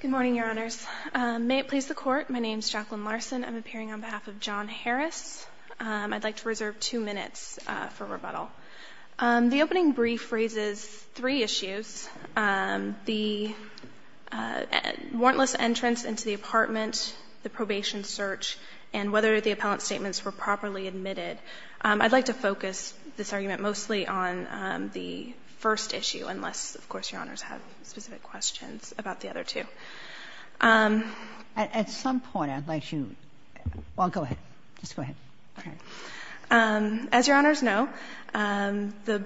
Good morning, Your Honors. May it please the Court, my name is Jacqueline Larson. I'm appearing on behalf of John Harris. I'd like to reserve two minutes for rebuttal. The opening brief raises three issues. The warrantless entrance into the apartment, the probation search, and whether the appellant's statements were properly admitted. I'd like to focus this argument mostly on the first issue, unless, of course, Your Honors have specific questions about the other two. At some point, I'd like you well, go ahead. Just go ahead. As Your Honors know, the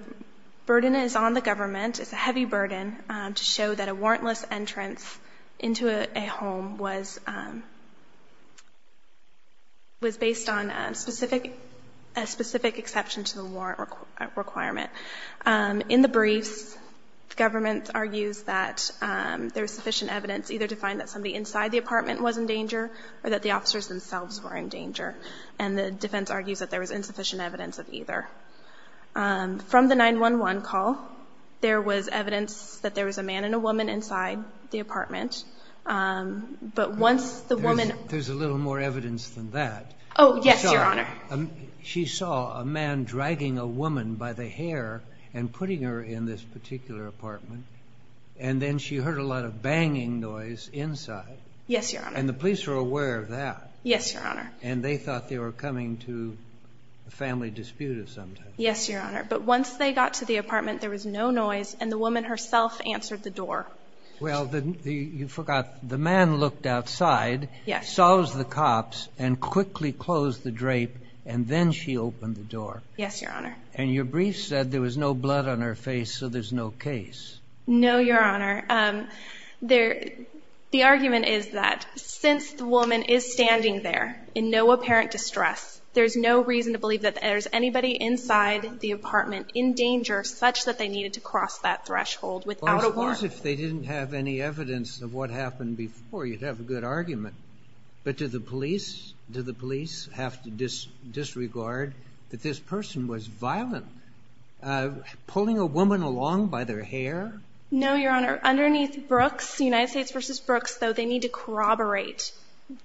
burden is on the government. It's a heavy burden to show that a warrantless entrance into a home was based on a specific exception to the warrant requirement. In the briefs, the government argues that there's sufficient evidence either to find that somebody inside the apartment was in danger or that the officers themselves were in danger. And the defense argues that there was insufficient evidence of either. From the 911 call, there was evidence that there was a man and a woman inside the apartment. There's a little more evidence than that. Oh, yes, Your Honor. She saw a man dragging a woman by the hair and putting her in this particular apartment. And then she heard a lot of banging noise inside. Yes, Your Honor. And the police were aware of that. Yes, Your Honor. And they thought they were coming to a family dispute of some type. Yes, Your Honor. But once they got to the apartment, there was no noise, and the woman herself answered the door. Well, you forgot. The man looked outside, saws the cops, and quickly closed the drape. And then she opened the door. Yes, Your Honor. And your brief said there was no blood on her face, so there's no case. No, Your Honor. The argument is that since the woman is standing there in no apparent distress, there's no reason to believe that there's anybody inside the apartment in danger such that they needed to cross that threshold without a warrant. Well, as far as if they didn't have any evidence of what happened before, you'd have a good argument. But did the police have to disregard that this person was violent, pulling a woman along by their hair? No, Your Honor. Underneath Brooks, United States v. Brooks, though, they need to corroborate.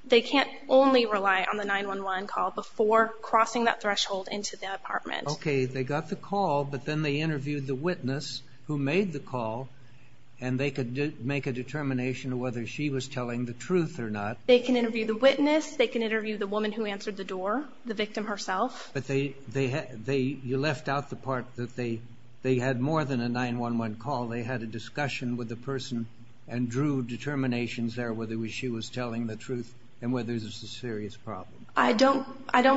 They can't only rely on the 911 call before crossing that threshold into the apartment. Okay. They got the call, but then they interviewed the witness who made the call, and they could make a determination of whether she was telling the truth or not. They can interview the witness. They can interview the woman who answered the door, the victim herself. But you left out the part that they had more than a 911 call. They had a discussion with the person and drew determinations there, whether she was telling the truth and whether this was a serious problem. I don't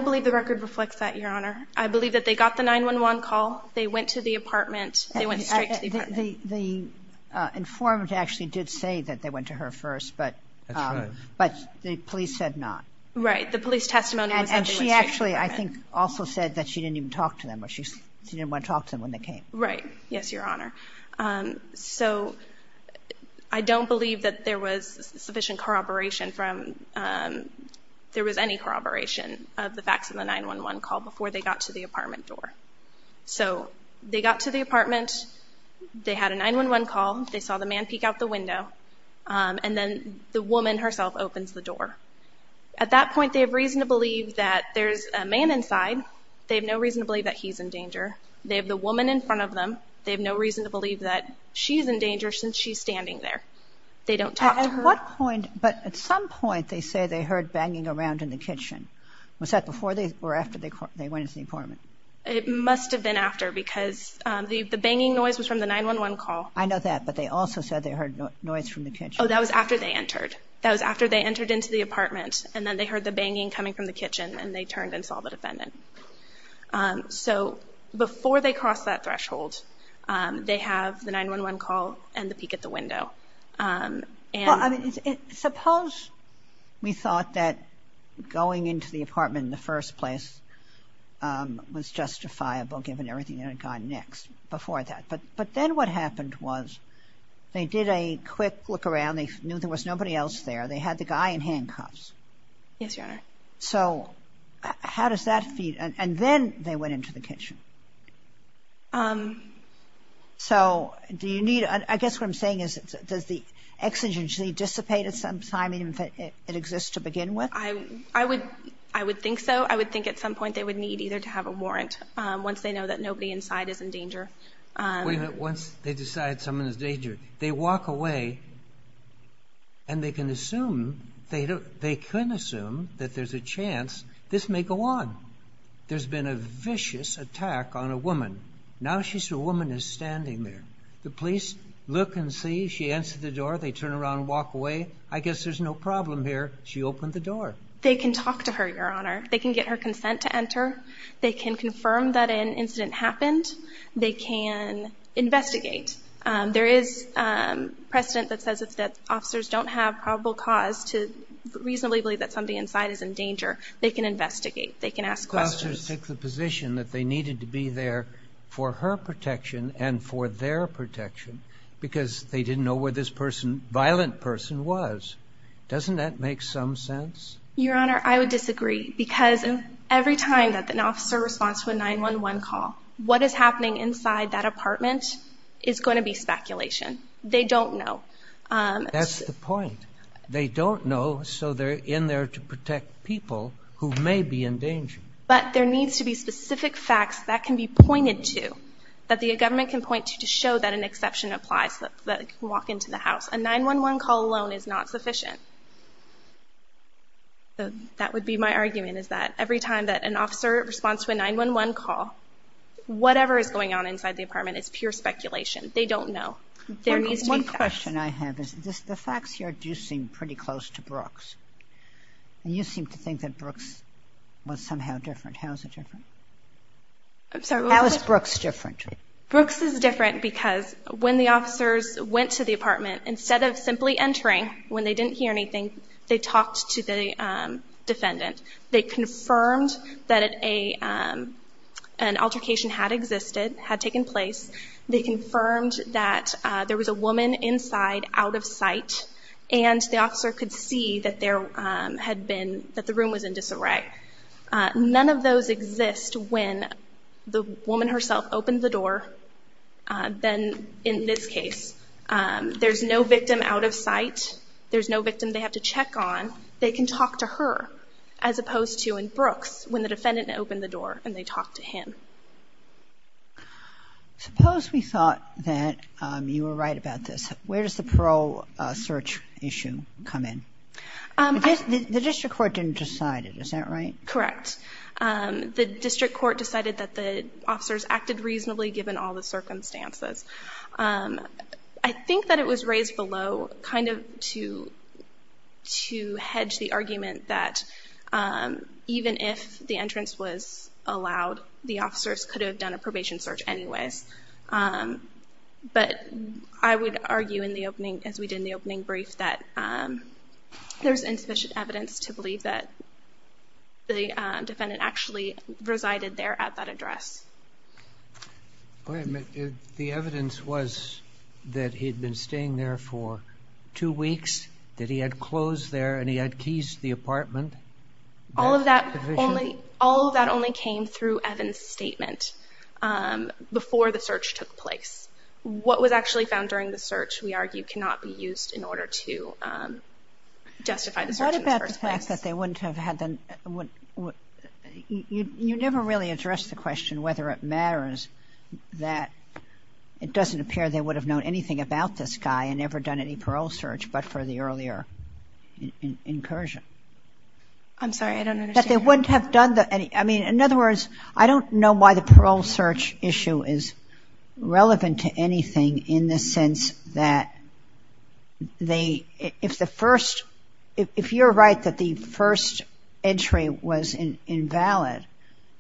believe the record reflects that, Your Honor. I believe that they got the 911 call. They went to the apartment. They went straight to the apartment. The informant actually did say that they went to her first, but the police said not. Right. The police testimony was that they went straight to the apartment. And she actually, I think, also said that she didn't even talk to them or she didn't want to talk to them when they came. Right. Yes, Your Honor. So I don't believe that there was sufficient corroboration from, there was any corroboration of the facts in the 911 call before they got to the apartment door. So they got to the apartment. They had a 911 call. They saw the man peek out the window, and then the woman herself opens the door. At that point, they have reason to believe that there's a man inside. They have no reason to believe that he's in danger. They have the woman in front of them. They have no reason to believe that she's in danger since she's standing there. They don't talk to her. At what point, but at some point, they say they heard banging around in the kitchen. Was that before or after they went into the apartment? It must have been after because the banging noise was from the 911 call. I know that, but they also said they heard noise from the kitchen. Oh, that was after they entered. That was after they entered into the apartment, and then they heard the banging coming from the kitchen, and they turned and saw the defendant. So before they cross that threshold, they have the 911 call and the peek at the window. Well, I mean, suppose we thought that going into the apartment in the first place was justifiable given everything that had gone next before that, but then what happened was they did a quick look around. They knew there was nobody else there. They had the guy in handcuffs. Yes, Your Honor. So how does that feed? And then they went into the kitchen. So do you need, I guess what I'm saying is does the exigency dissipate at some time even if it exists to begin with? I would think so. I would think at some point they would need either to have a warrant once they know that nobody inside is in danger. Wait a minute. Once they decide someone is in danger, they walk away and they can assume, they could assume that there's a chance this may go on. There's been a vicious attack on a woman. Now she's a woman is standing there. The police look and see. She answers the door. They turn around and walk away. I guess there's no problem here. She opened the door. They can talk to her, Your Honor. They can get her consent to enter. They can confirm that an incident happened. They can investigate. There is precedent that says if the officers don't have probable cause to reasonably believe that somebody inside is in danger, they can investigate. They can ask questions. The officers take the position that they needed to be there for her protection and for their protection because they didn't know where this violent person was. Doesn't that make some sense? Your Honor, I would disagree because every time that an officer responds to a 911 call, what is happening inside that apartment is going to be speculation. They don't know. That's the point. They don't know so they're in there to protect people who may be in danger. But there needs to be specific facts that can be pointed to that the government can point to to show that an exception applies so that they can walk into the house. A 911 call alone is not sufficient. So that would be my argument is that every time that an officer responds to a 911 call, whatever is going on inside the apartment is pure speculation. They don't know. One question I have is the facts here do seem pretty close to Brooks. You seem to think that Brooks was somehow different. How is it different? How is Brooks different? Brooks is different because when the officers went to the apartment, instead of simply entering when they didn't hear anything, they talked to the defendant. They confirmed that an altercation had existed, had taken place. They confirmed that there was a woman inside out of sight and the officer could see that the room was in disarray. None of those exist when the woman herself opened the door than in this case. There's no victim out of sight. There's no victim they have to check on. They can talk to her as opposed to in Brooks when the defendant opened the door and they talked to him. Suppose we thought that you were right about this. Where does the parole search issue come in? The district court didn't decide it. Is that right? Correct. The district court decided that the officers acted reasonably given all the circumstances. I think that it was raised below to hedge the argument that even if the entrance was allowed, the officers could have done a probation search anyways. I would argue, as we did in the opening brief, that there's insufficient evidence to believe that the defendant actually resided there at that address. The evidence was that he had been staying there for two weeks, that he had clothes there, and he had keys to the apartment. All of that only came through Evans' statement before the search took place. What was actually found during the search, we argue, cannot be used in order to justify the search in the first place. You never really addressed the question whether it matters that it doesn't appear they would have known anything about this guy and that they wouldn't have done the... In other words, I don't know why the parole search issue is relevant to anything in the sense that if you're right that the first entry was invalid,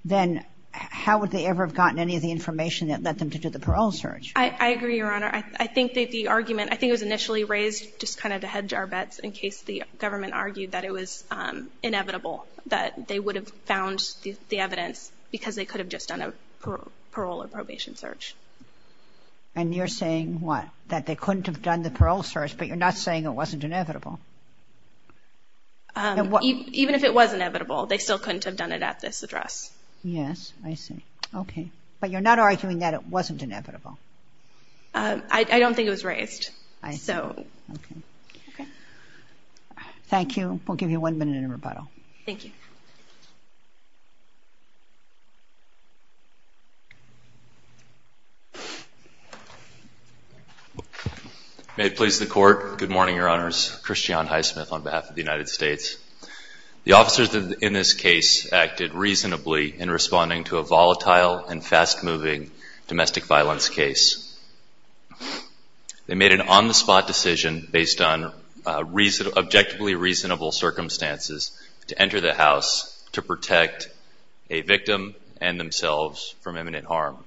then how would they ever have gotten any of the information that led them to do the parole search? I agree, Your Honor. I think the argument I think it was initially raised just kind of to hedge our bets in case the government argued that it was inevitable that they would have found the evidence because they could have just done a parole or probation search. And you're saying what? That they couldn't have done the parole search, but you're not saying it wasn't inevitable? Even if it was inevitable, they still couldn't have done it at this address. Yes, I see. Okay. But you're not arguing that it wasn't inevitable? I don't think it was raised. I see. Okay. Thank you. We'll give you one minute in rebuttal. Thank you. May it please the Court. Good morning, Your Honors. Christian Highsmith on behalf of the United States. The officers in this case acted reasonably in responding to a volatile and fast-moving domestic violence case. They made an on-the-spot decision based on objectively reasonable circumstances to enter the house to protect a victim and themselves from imminent harm.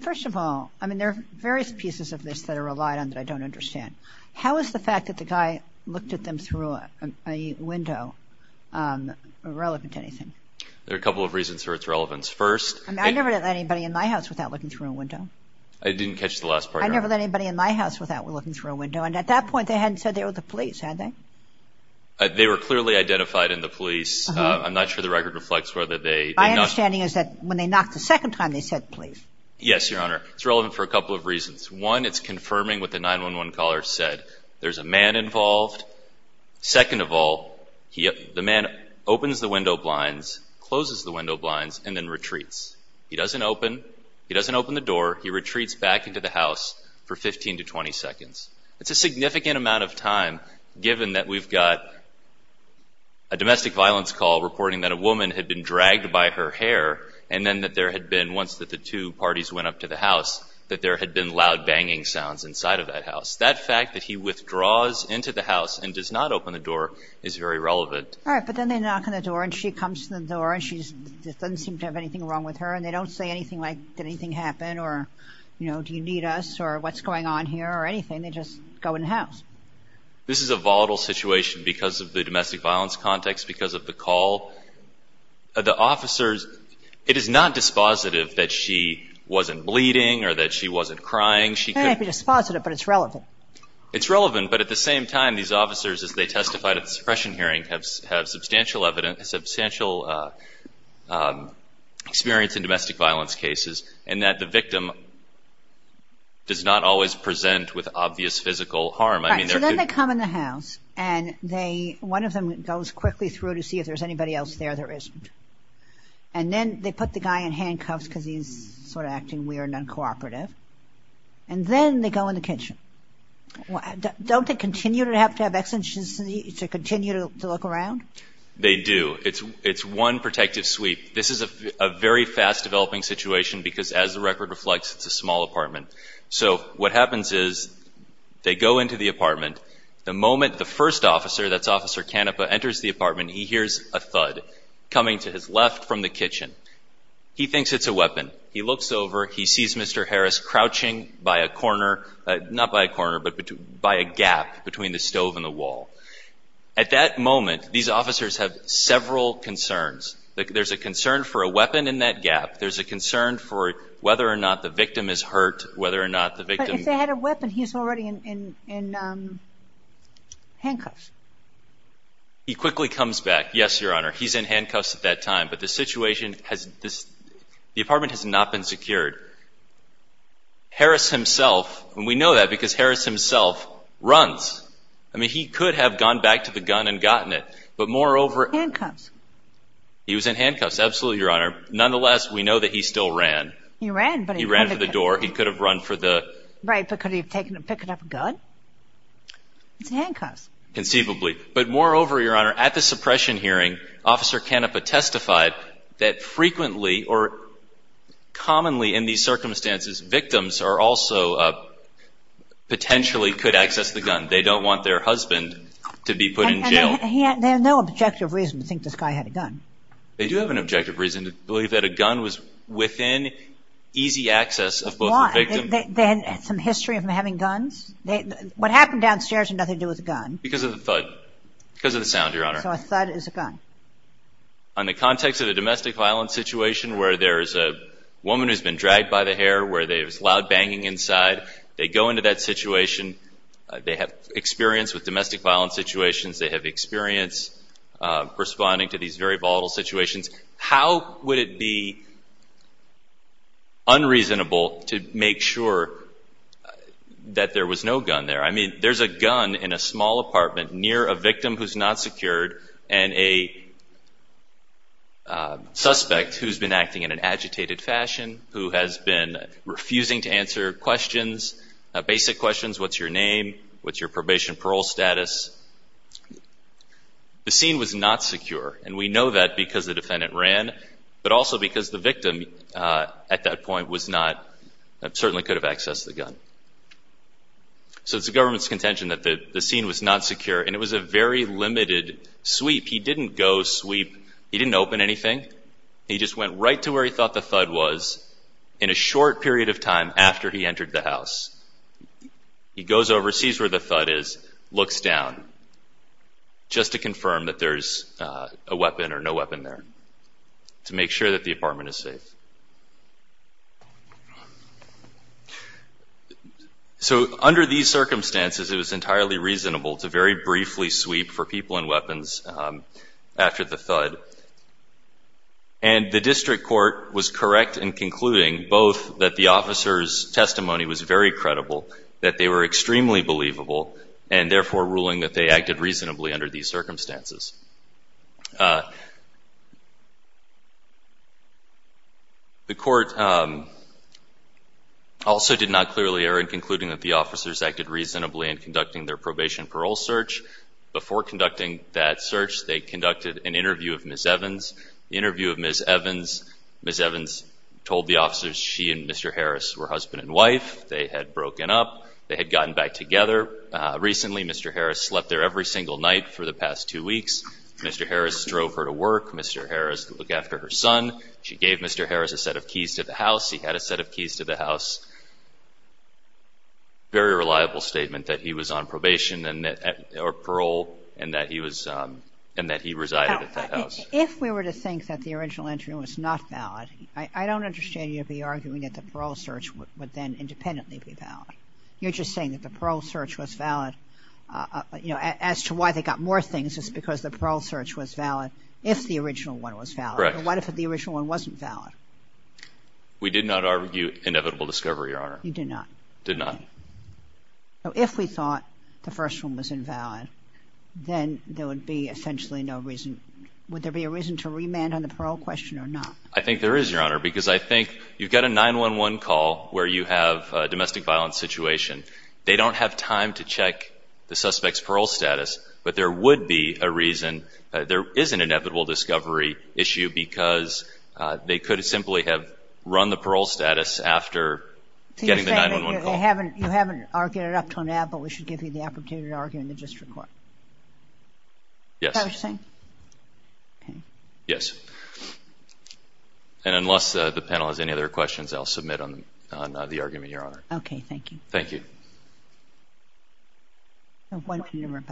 First of all, I mean, there are various pieces of this that are relied on that I don't understand. How is the fact that the guy looked at them through a window irrelevant to anything? There are a couple of reasons for its relevance. First... I mean, I never let anybody in my house without looking through a window. I didn't catch the last part. I never let anybody in my house without looking through a window. And at that point, they hadn't said they were the police, had they? They were clearly identified in the police. I'm not sure the record reflects whether they... My understanding is that when they knocked the second time, they said police. Yes, Your Honor. It's relevant for a couple of reasons. One, it's confirming what the 911 caller said. There's a man involved. Second of all, the man opens the window blinds, closes the window blinds, and then retreats. He doesn't open the door. He retreats back into the house for 15 to 20 seconds. It's a significant amount of time, given that we've got a domestic violence call reporting that a woman had been dragged by her hair, and then that there had been, once that the two parties went up to the house, that there had been loud banging sounds inside of that house. That fact that he withdraws into the house and does not open the door is very relevant. All right, but then they knock on the door, and she comes to the door, and she doesn't seem to have anything wrong with her, and they don't say anything like, did anything happen, or do you need us, or what's going on here, or anything. They just go in the house. This is a volatile situation because of the domestic violence context, because of the call. The officers, it is not dispositive that she wasn't bleeding or that she wasn't crying. It may not be dispositive, but it's relevant. It's relevant, but at the same time, these officers, as they testified at the suppression hearing, have substantial experience in domestic violence cases, and that the victim does not always present with obvious physical harm. All right, so then they come in the house, and one of them goes quickly through to see if there's anybody else there that isn't. And then they put the guy in handcuffs because he's sort of acting weird and uncooperative, and then they go in the kitchen. Don't they continue to have to have exigencies to continue to look around? They do. It's one protective sweep. This is a very fast-developing situation because, as the record reflects, it's a small apartment. So what happens is they go into the apartment. The moment the first officer, that's Officer Canapa, enters the apartment, he hears a thud coming to his left from the kitchen. He thinks it's a weapon. He looks over. He sees Mr. Harris crouching by a corner, not by a corner, but by a gap between the stove and the wall. At that moment, these officers have several concerns. There's a concern for a weapon in that gap. There's a concern for whether or not the victim is hurt, whether or not the victim… But if they had a weapon, he's already in handcuffs. He quickly comes back, yes, Your Honor. He's in handcuffs at that time. But the situation has… The apartment has not been secured. Harris himself, and we know that because Harris himself runs. I mean, he could have gone back to the gun and gotten it, but moreover… Handcuffs. He was in handcuffs. Absolutely, Your Honor.… that frequently or commonly in these circumstances, victims are also… Potentially could access the gun. They don't want their husband to be put in jail. They have no objective reason to think this guy had a gun. They do have an objective reason to believe that a gun was within easy access of both the victim… They had some history of him having guns. What happened downstairs had nothing to do with a gun. Because of the thud. Because of the sound, Your Honor. So a thud is a gun. In the context of a domestic violence situation where there's a woman who's been dragged by the hair, where there's loud banging inside, they go into that situation. They have experience with domestic violence situations. They have experience responding to these very volatile situations. How would it be unreasonable to make sure that there was no gun there? I mean, there's a gun in a small apartment near a victim who's not secured, and a suspect who's been acting in an agitated fashion, who has been refusing to answer questions, basic questions. What's your name? What's your probation parole status? The scene was not secure, and we know that because the defendant ran, but also because the victim at that point was not… So it's the government's contention that the scene was not secure, and it was a very limited sweep. He didn't go sweep. He didn't open anything. He just went right to where he thought the thud was in a short period of time after he entered the house. He goes over, sees where the thud is, looks down, just to confirm that there's a weapon or no weapon there to make sure that the apartment is safe. So under these circumstances, it was entirely reasonable to very briefly sweep for people and weapons after the thud. And the district court was correct in concluding both that the officer's testimony was very credible, that they were extremely believable, and therefore ruling that they acted reasonably under these circumstances. The court also did not clearly err in concluding that the officers acted reasonably in conducting their probation parole search. Before conducting that search, they conducted an interview of Ms. Evans. Ms. Evans told the officers she and Mr. Harris were husband and wife. They had broken up. They had gotten back together. Recently, Mr. Harris slept there every single night for the past two weeks. Mr. Harris drove her to work. Mr. Harris looked after her son. She gave Mr. Harris a set of keys to the house. He had a set of keys to the house. Very reliable statement that he was on probation or parole and that he was — and that he resided at that house. If we were to think that the original interview was not valid, I don't understand you to be arguing that the parole search would then independently be valid. You're just saying that the parole search was valid. As to why they got more things, it's because the parole search was valid if the original one was valid. Correct. What if the original one wasn't valid? We did not argue inevitable discovery, Your Honor. You did not? Did not. So if we thought the first one was invalid, then there would be essentially no reason — would there be a reason to remand on the parole question or not? I think there is, Your Honor, because I think you've got a 911 call where you have a domestic violence situation. They don't have time to check the suspect's parole status, but there would be a reason. There is an inevitable discovery issue because they could simply have run the parole status after getting the 911 call. So you're saying that you haven't argued it up to now, but we should give you the opportunity to argue in the district court? Yes. Is that what you're saying? Yes. And unless the panel has any other questions, I'll submit on the argument, Your Honor. Okay. Thank you. Thank you. Thank you,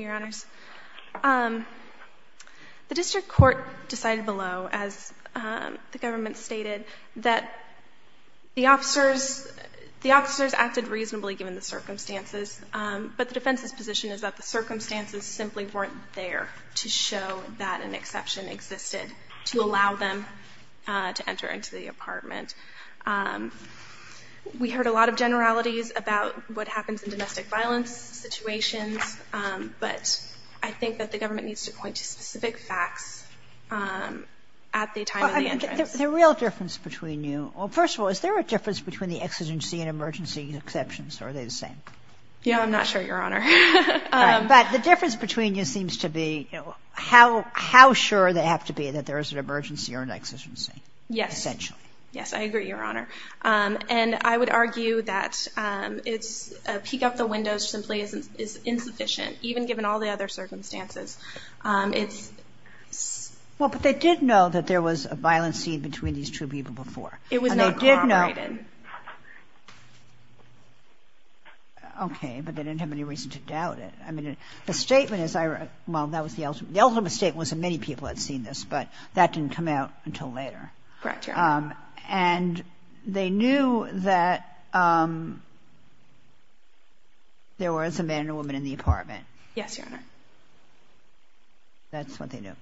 Your Honors. The district court decided below, as the government stated, that the officers acted reasonably given the circumstances, but the defense's position is that the circumstances simply weren't there to show that an exception existed to allow them to enter into the apartment. We heard a lot of generalities about what happens in domestic violence situations, but I think that the government needs to point to specific facts at the time of the entrance. The real difference between you – well, first of all, is there a difference between the exigency and emergency exceptions, or are they the same? Yeah, I'm not sure, Your Honor. Right. But the difference between you seems to be how sure they have to be that there is an emergency or an exigency. Yes. Essentially. Yes, I agree, Your Honor. And I would argue that it's – a peek out the window simply is insufficient, even given all the other circumstances. It's – Well, but they did know that there was a violent scene between these two people before. It was not corroborated. And they did know – okay, but they didn't have any reason to doubt it. I mean, the statement is – well, that was the – the ultimate statement was that many people had seen this, Correct, Your Honor. and they knew that there was a man and a woman in the apartment. Yes, Your Honor. That's what they knew.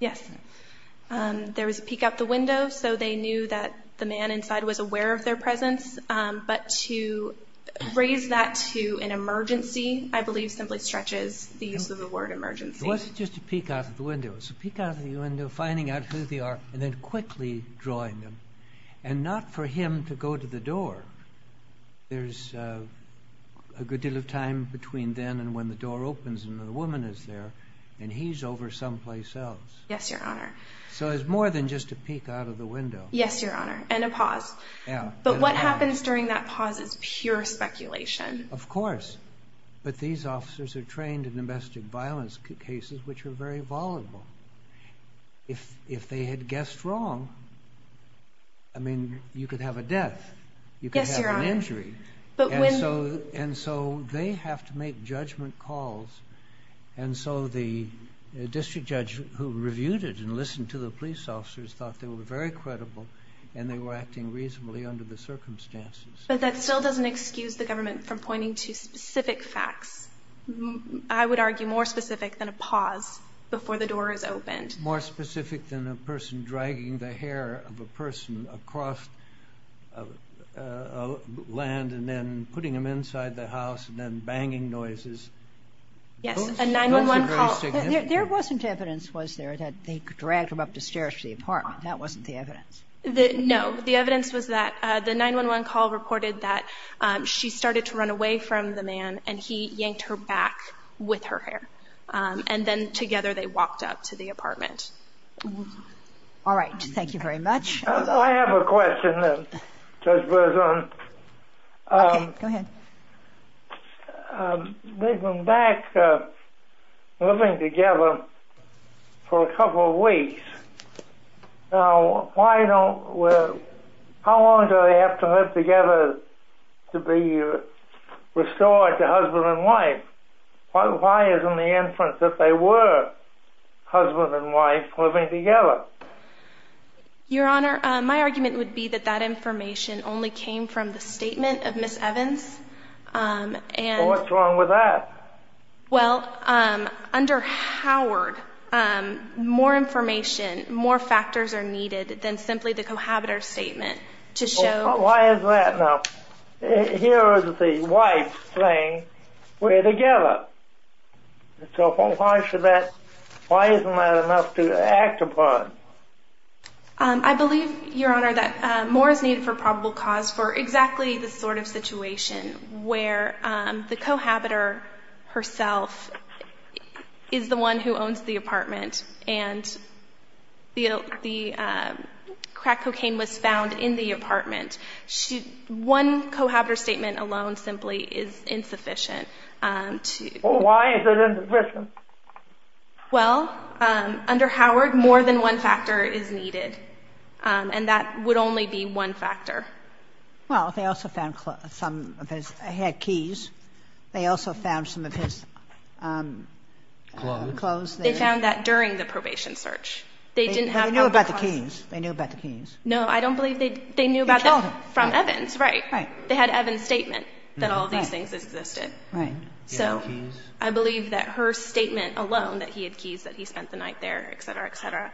Yes. There was a peek out the window, so they knew that the man inside was aware of their presence. But to raise that to an emergency, I believe, simply stretches the use of the word emergency. It wasn't just a peek out of the window. It's a peek out of the window, finding out who they are, and then quickly drawing them. And not for him to go to the door. There's a good deal of time between then and when the door opens and the woman is there, and he's over someplace else. Yes, Your Honor. So it's more than just a peek out of the window. Yes, Your Honor. And a pause. Yeah. But what happens during that pause is pure speculation. Of course. But these officers are trained in domestic violence cases, which are very volatile. If they had guessed wrong, I mean, you could have a death. You could have an injury. Yes, Your Honor. And so they have to make judgment calls. And so the district judge who reviewed it and listened to the police officers thought they were very credible, and they were acting reasonably under the circumstances. But that still doesn't excuse the government from pointing to specific facts. I would argue more specific than a pause before the door is opened. More specific than a person dragging the hair of a person across land and then putting them inside the house and then banging noises. Yes, a 911 call. There wasn't evidence, was there, that they dragged them up the stairs to the apartment? That wasn't the evidence? No. The evidence was that the 911 call reported that she started to run away from the man and he yanked her back with her hair. And then together they walked up to the apartment. All right. Thank you very much. I have a question, Judge Berzon. Okay. Go ahead. They've been back living together for a couple of weeks. Now, how long do they have to live together to be restored to husband and wife? Why isn't the inference that they were husband and wife living together? Your Honor, my argument would be that that information only came from the statement of Ms. Evans. What's wrong with that? Well, under Howard, more information, more factors are needed than simply the cohabitor statement to show. Why is that? Now, here is the wife saying, we're together. So why isn't that enough to act upon? I believe, Your Honor, that more is needed for probable cause for exactly this sort of situation, where the cohabitor herself is the one who owns the apartment and the crack cocaine was found in the apartment. One cohabitor statement alone simply is insufficient. Why is it insufficient? Well, under Howard, more than one factor is needed, and that would only be one factor. Well, they also found some of his keys. They also found some of his clothes. They found that during the probation search. They knew about the keys. No, I don't believe they knew about the keys. They called him. From Evans, right. Right. They had Evans' statement that all of these things existed. Right. So I believe that her statement alone, that he had keys, that he spent the night there, et cetera, et cetera,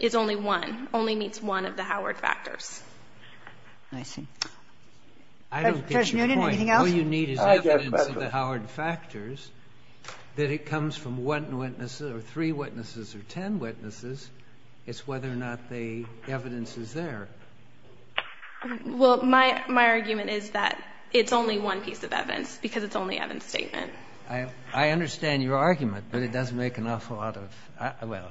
is only one, only meets one of the Howard factors. I see. I don't get your point. Judge Noonan, anything else? All you need is evidence of the Howard factors, that it comes from one witness or three witnesses or ten witnesses. It's whether or not the evidence is there. Well, my argument is that it's only one piece of evidence because it's only Evans' statement. I understand your argument, but it doesn't make an awful lot of – well,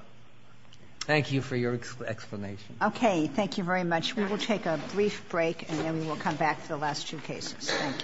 thank you for your explanation. Okay. Thank you very much. We will take a brief break, and then we will come back for the last two cases. Thank you.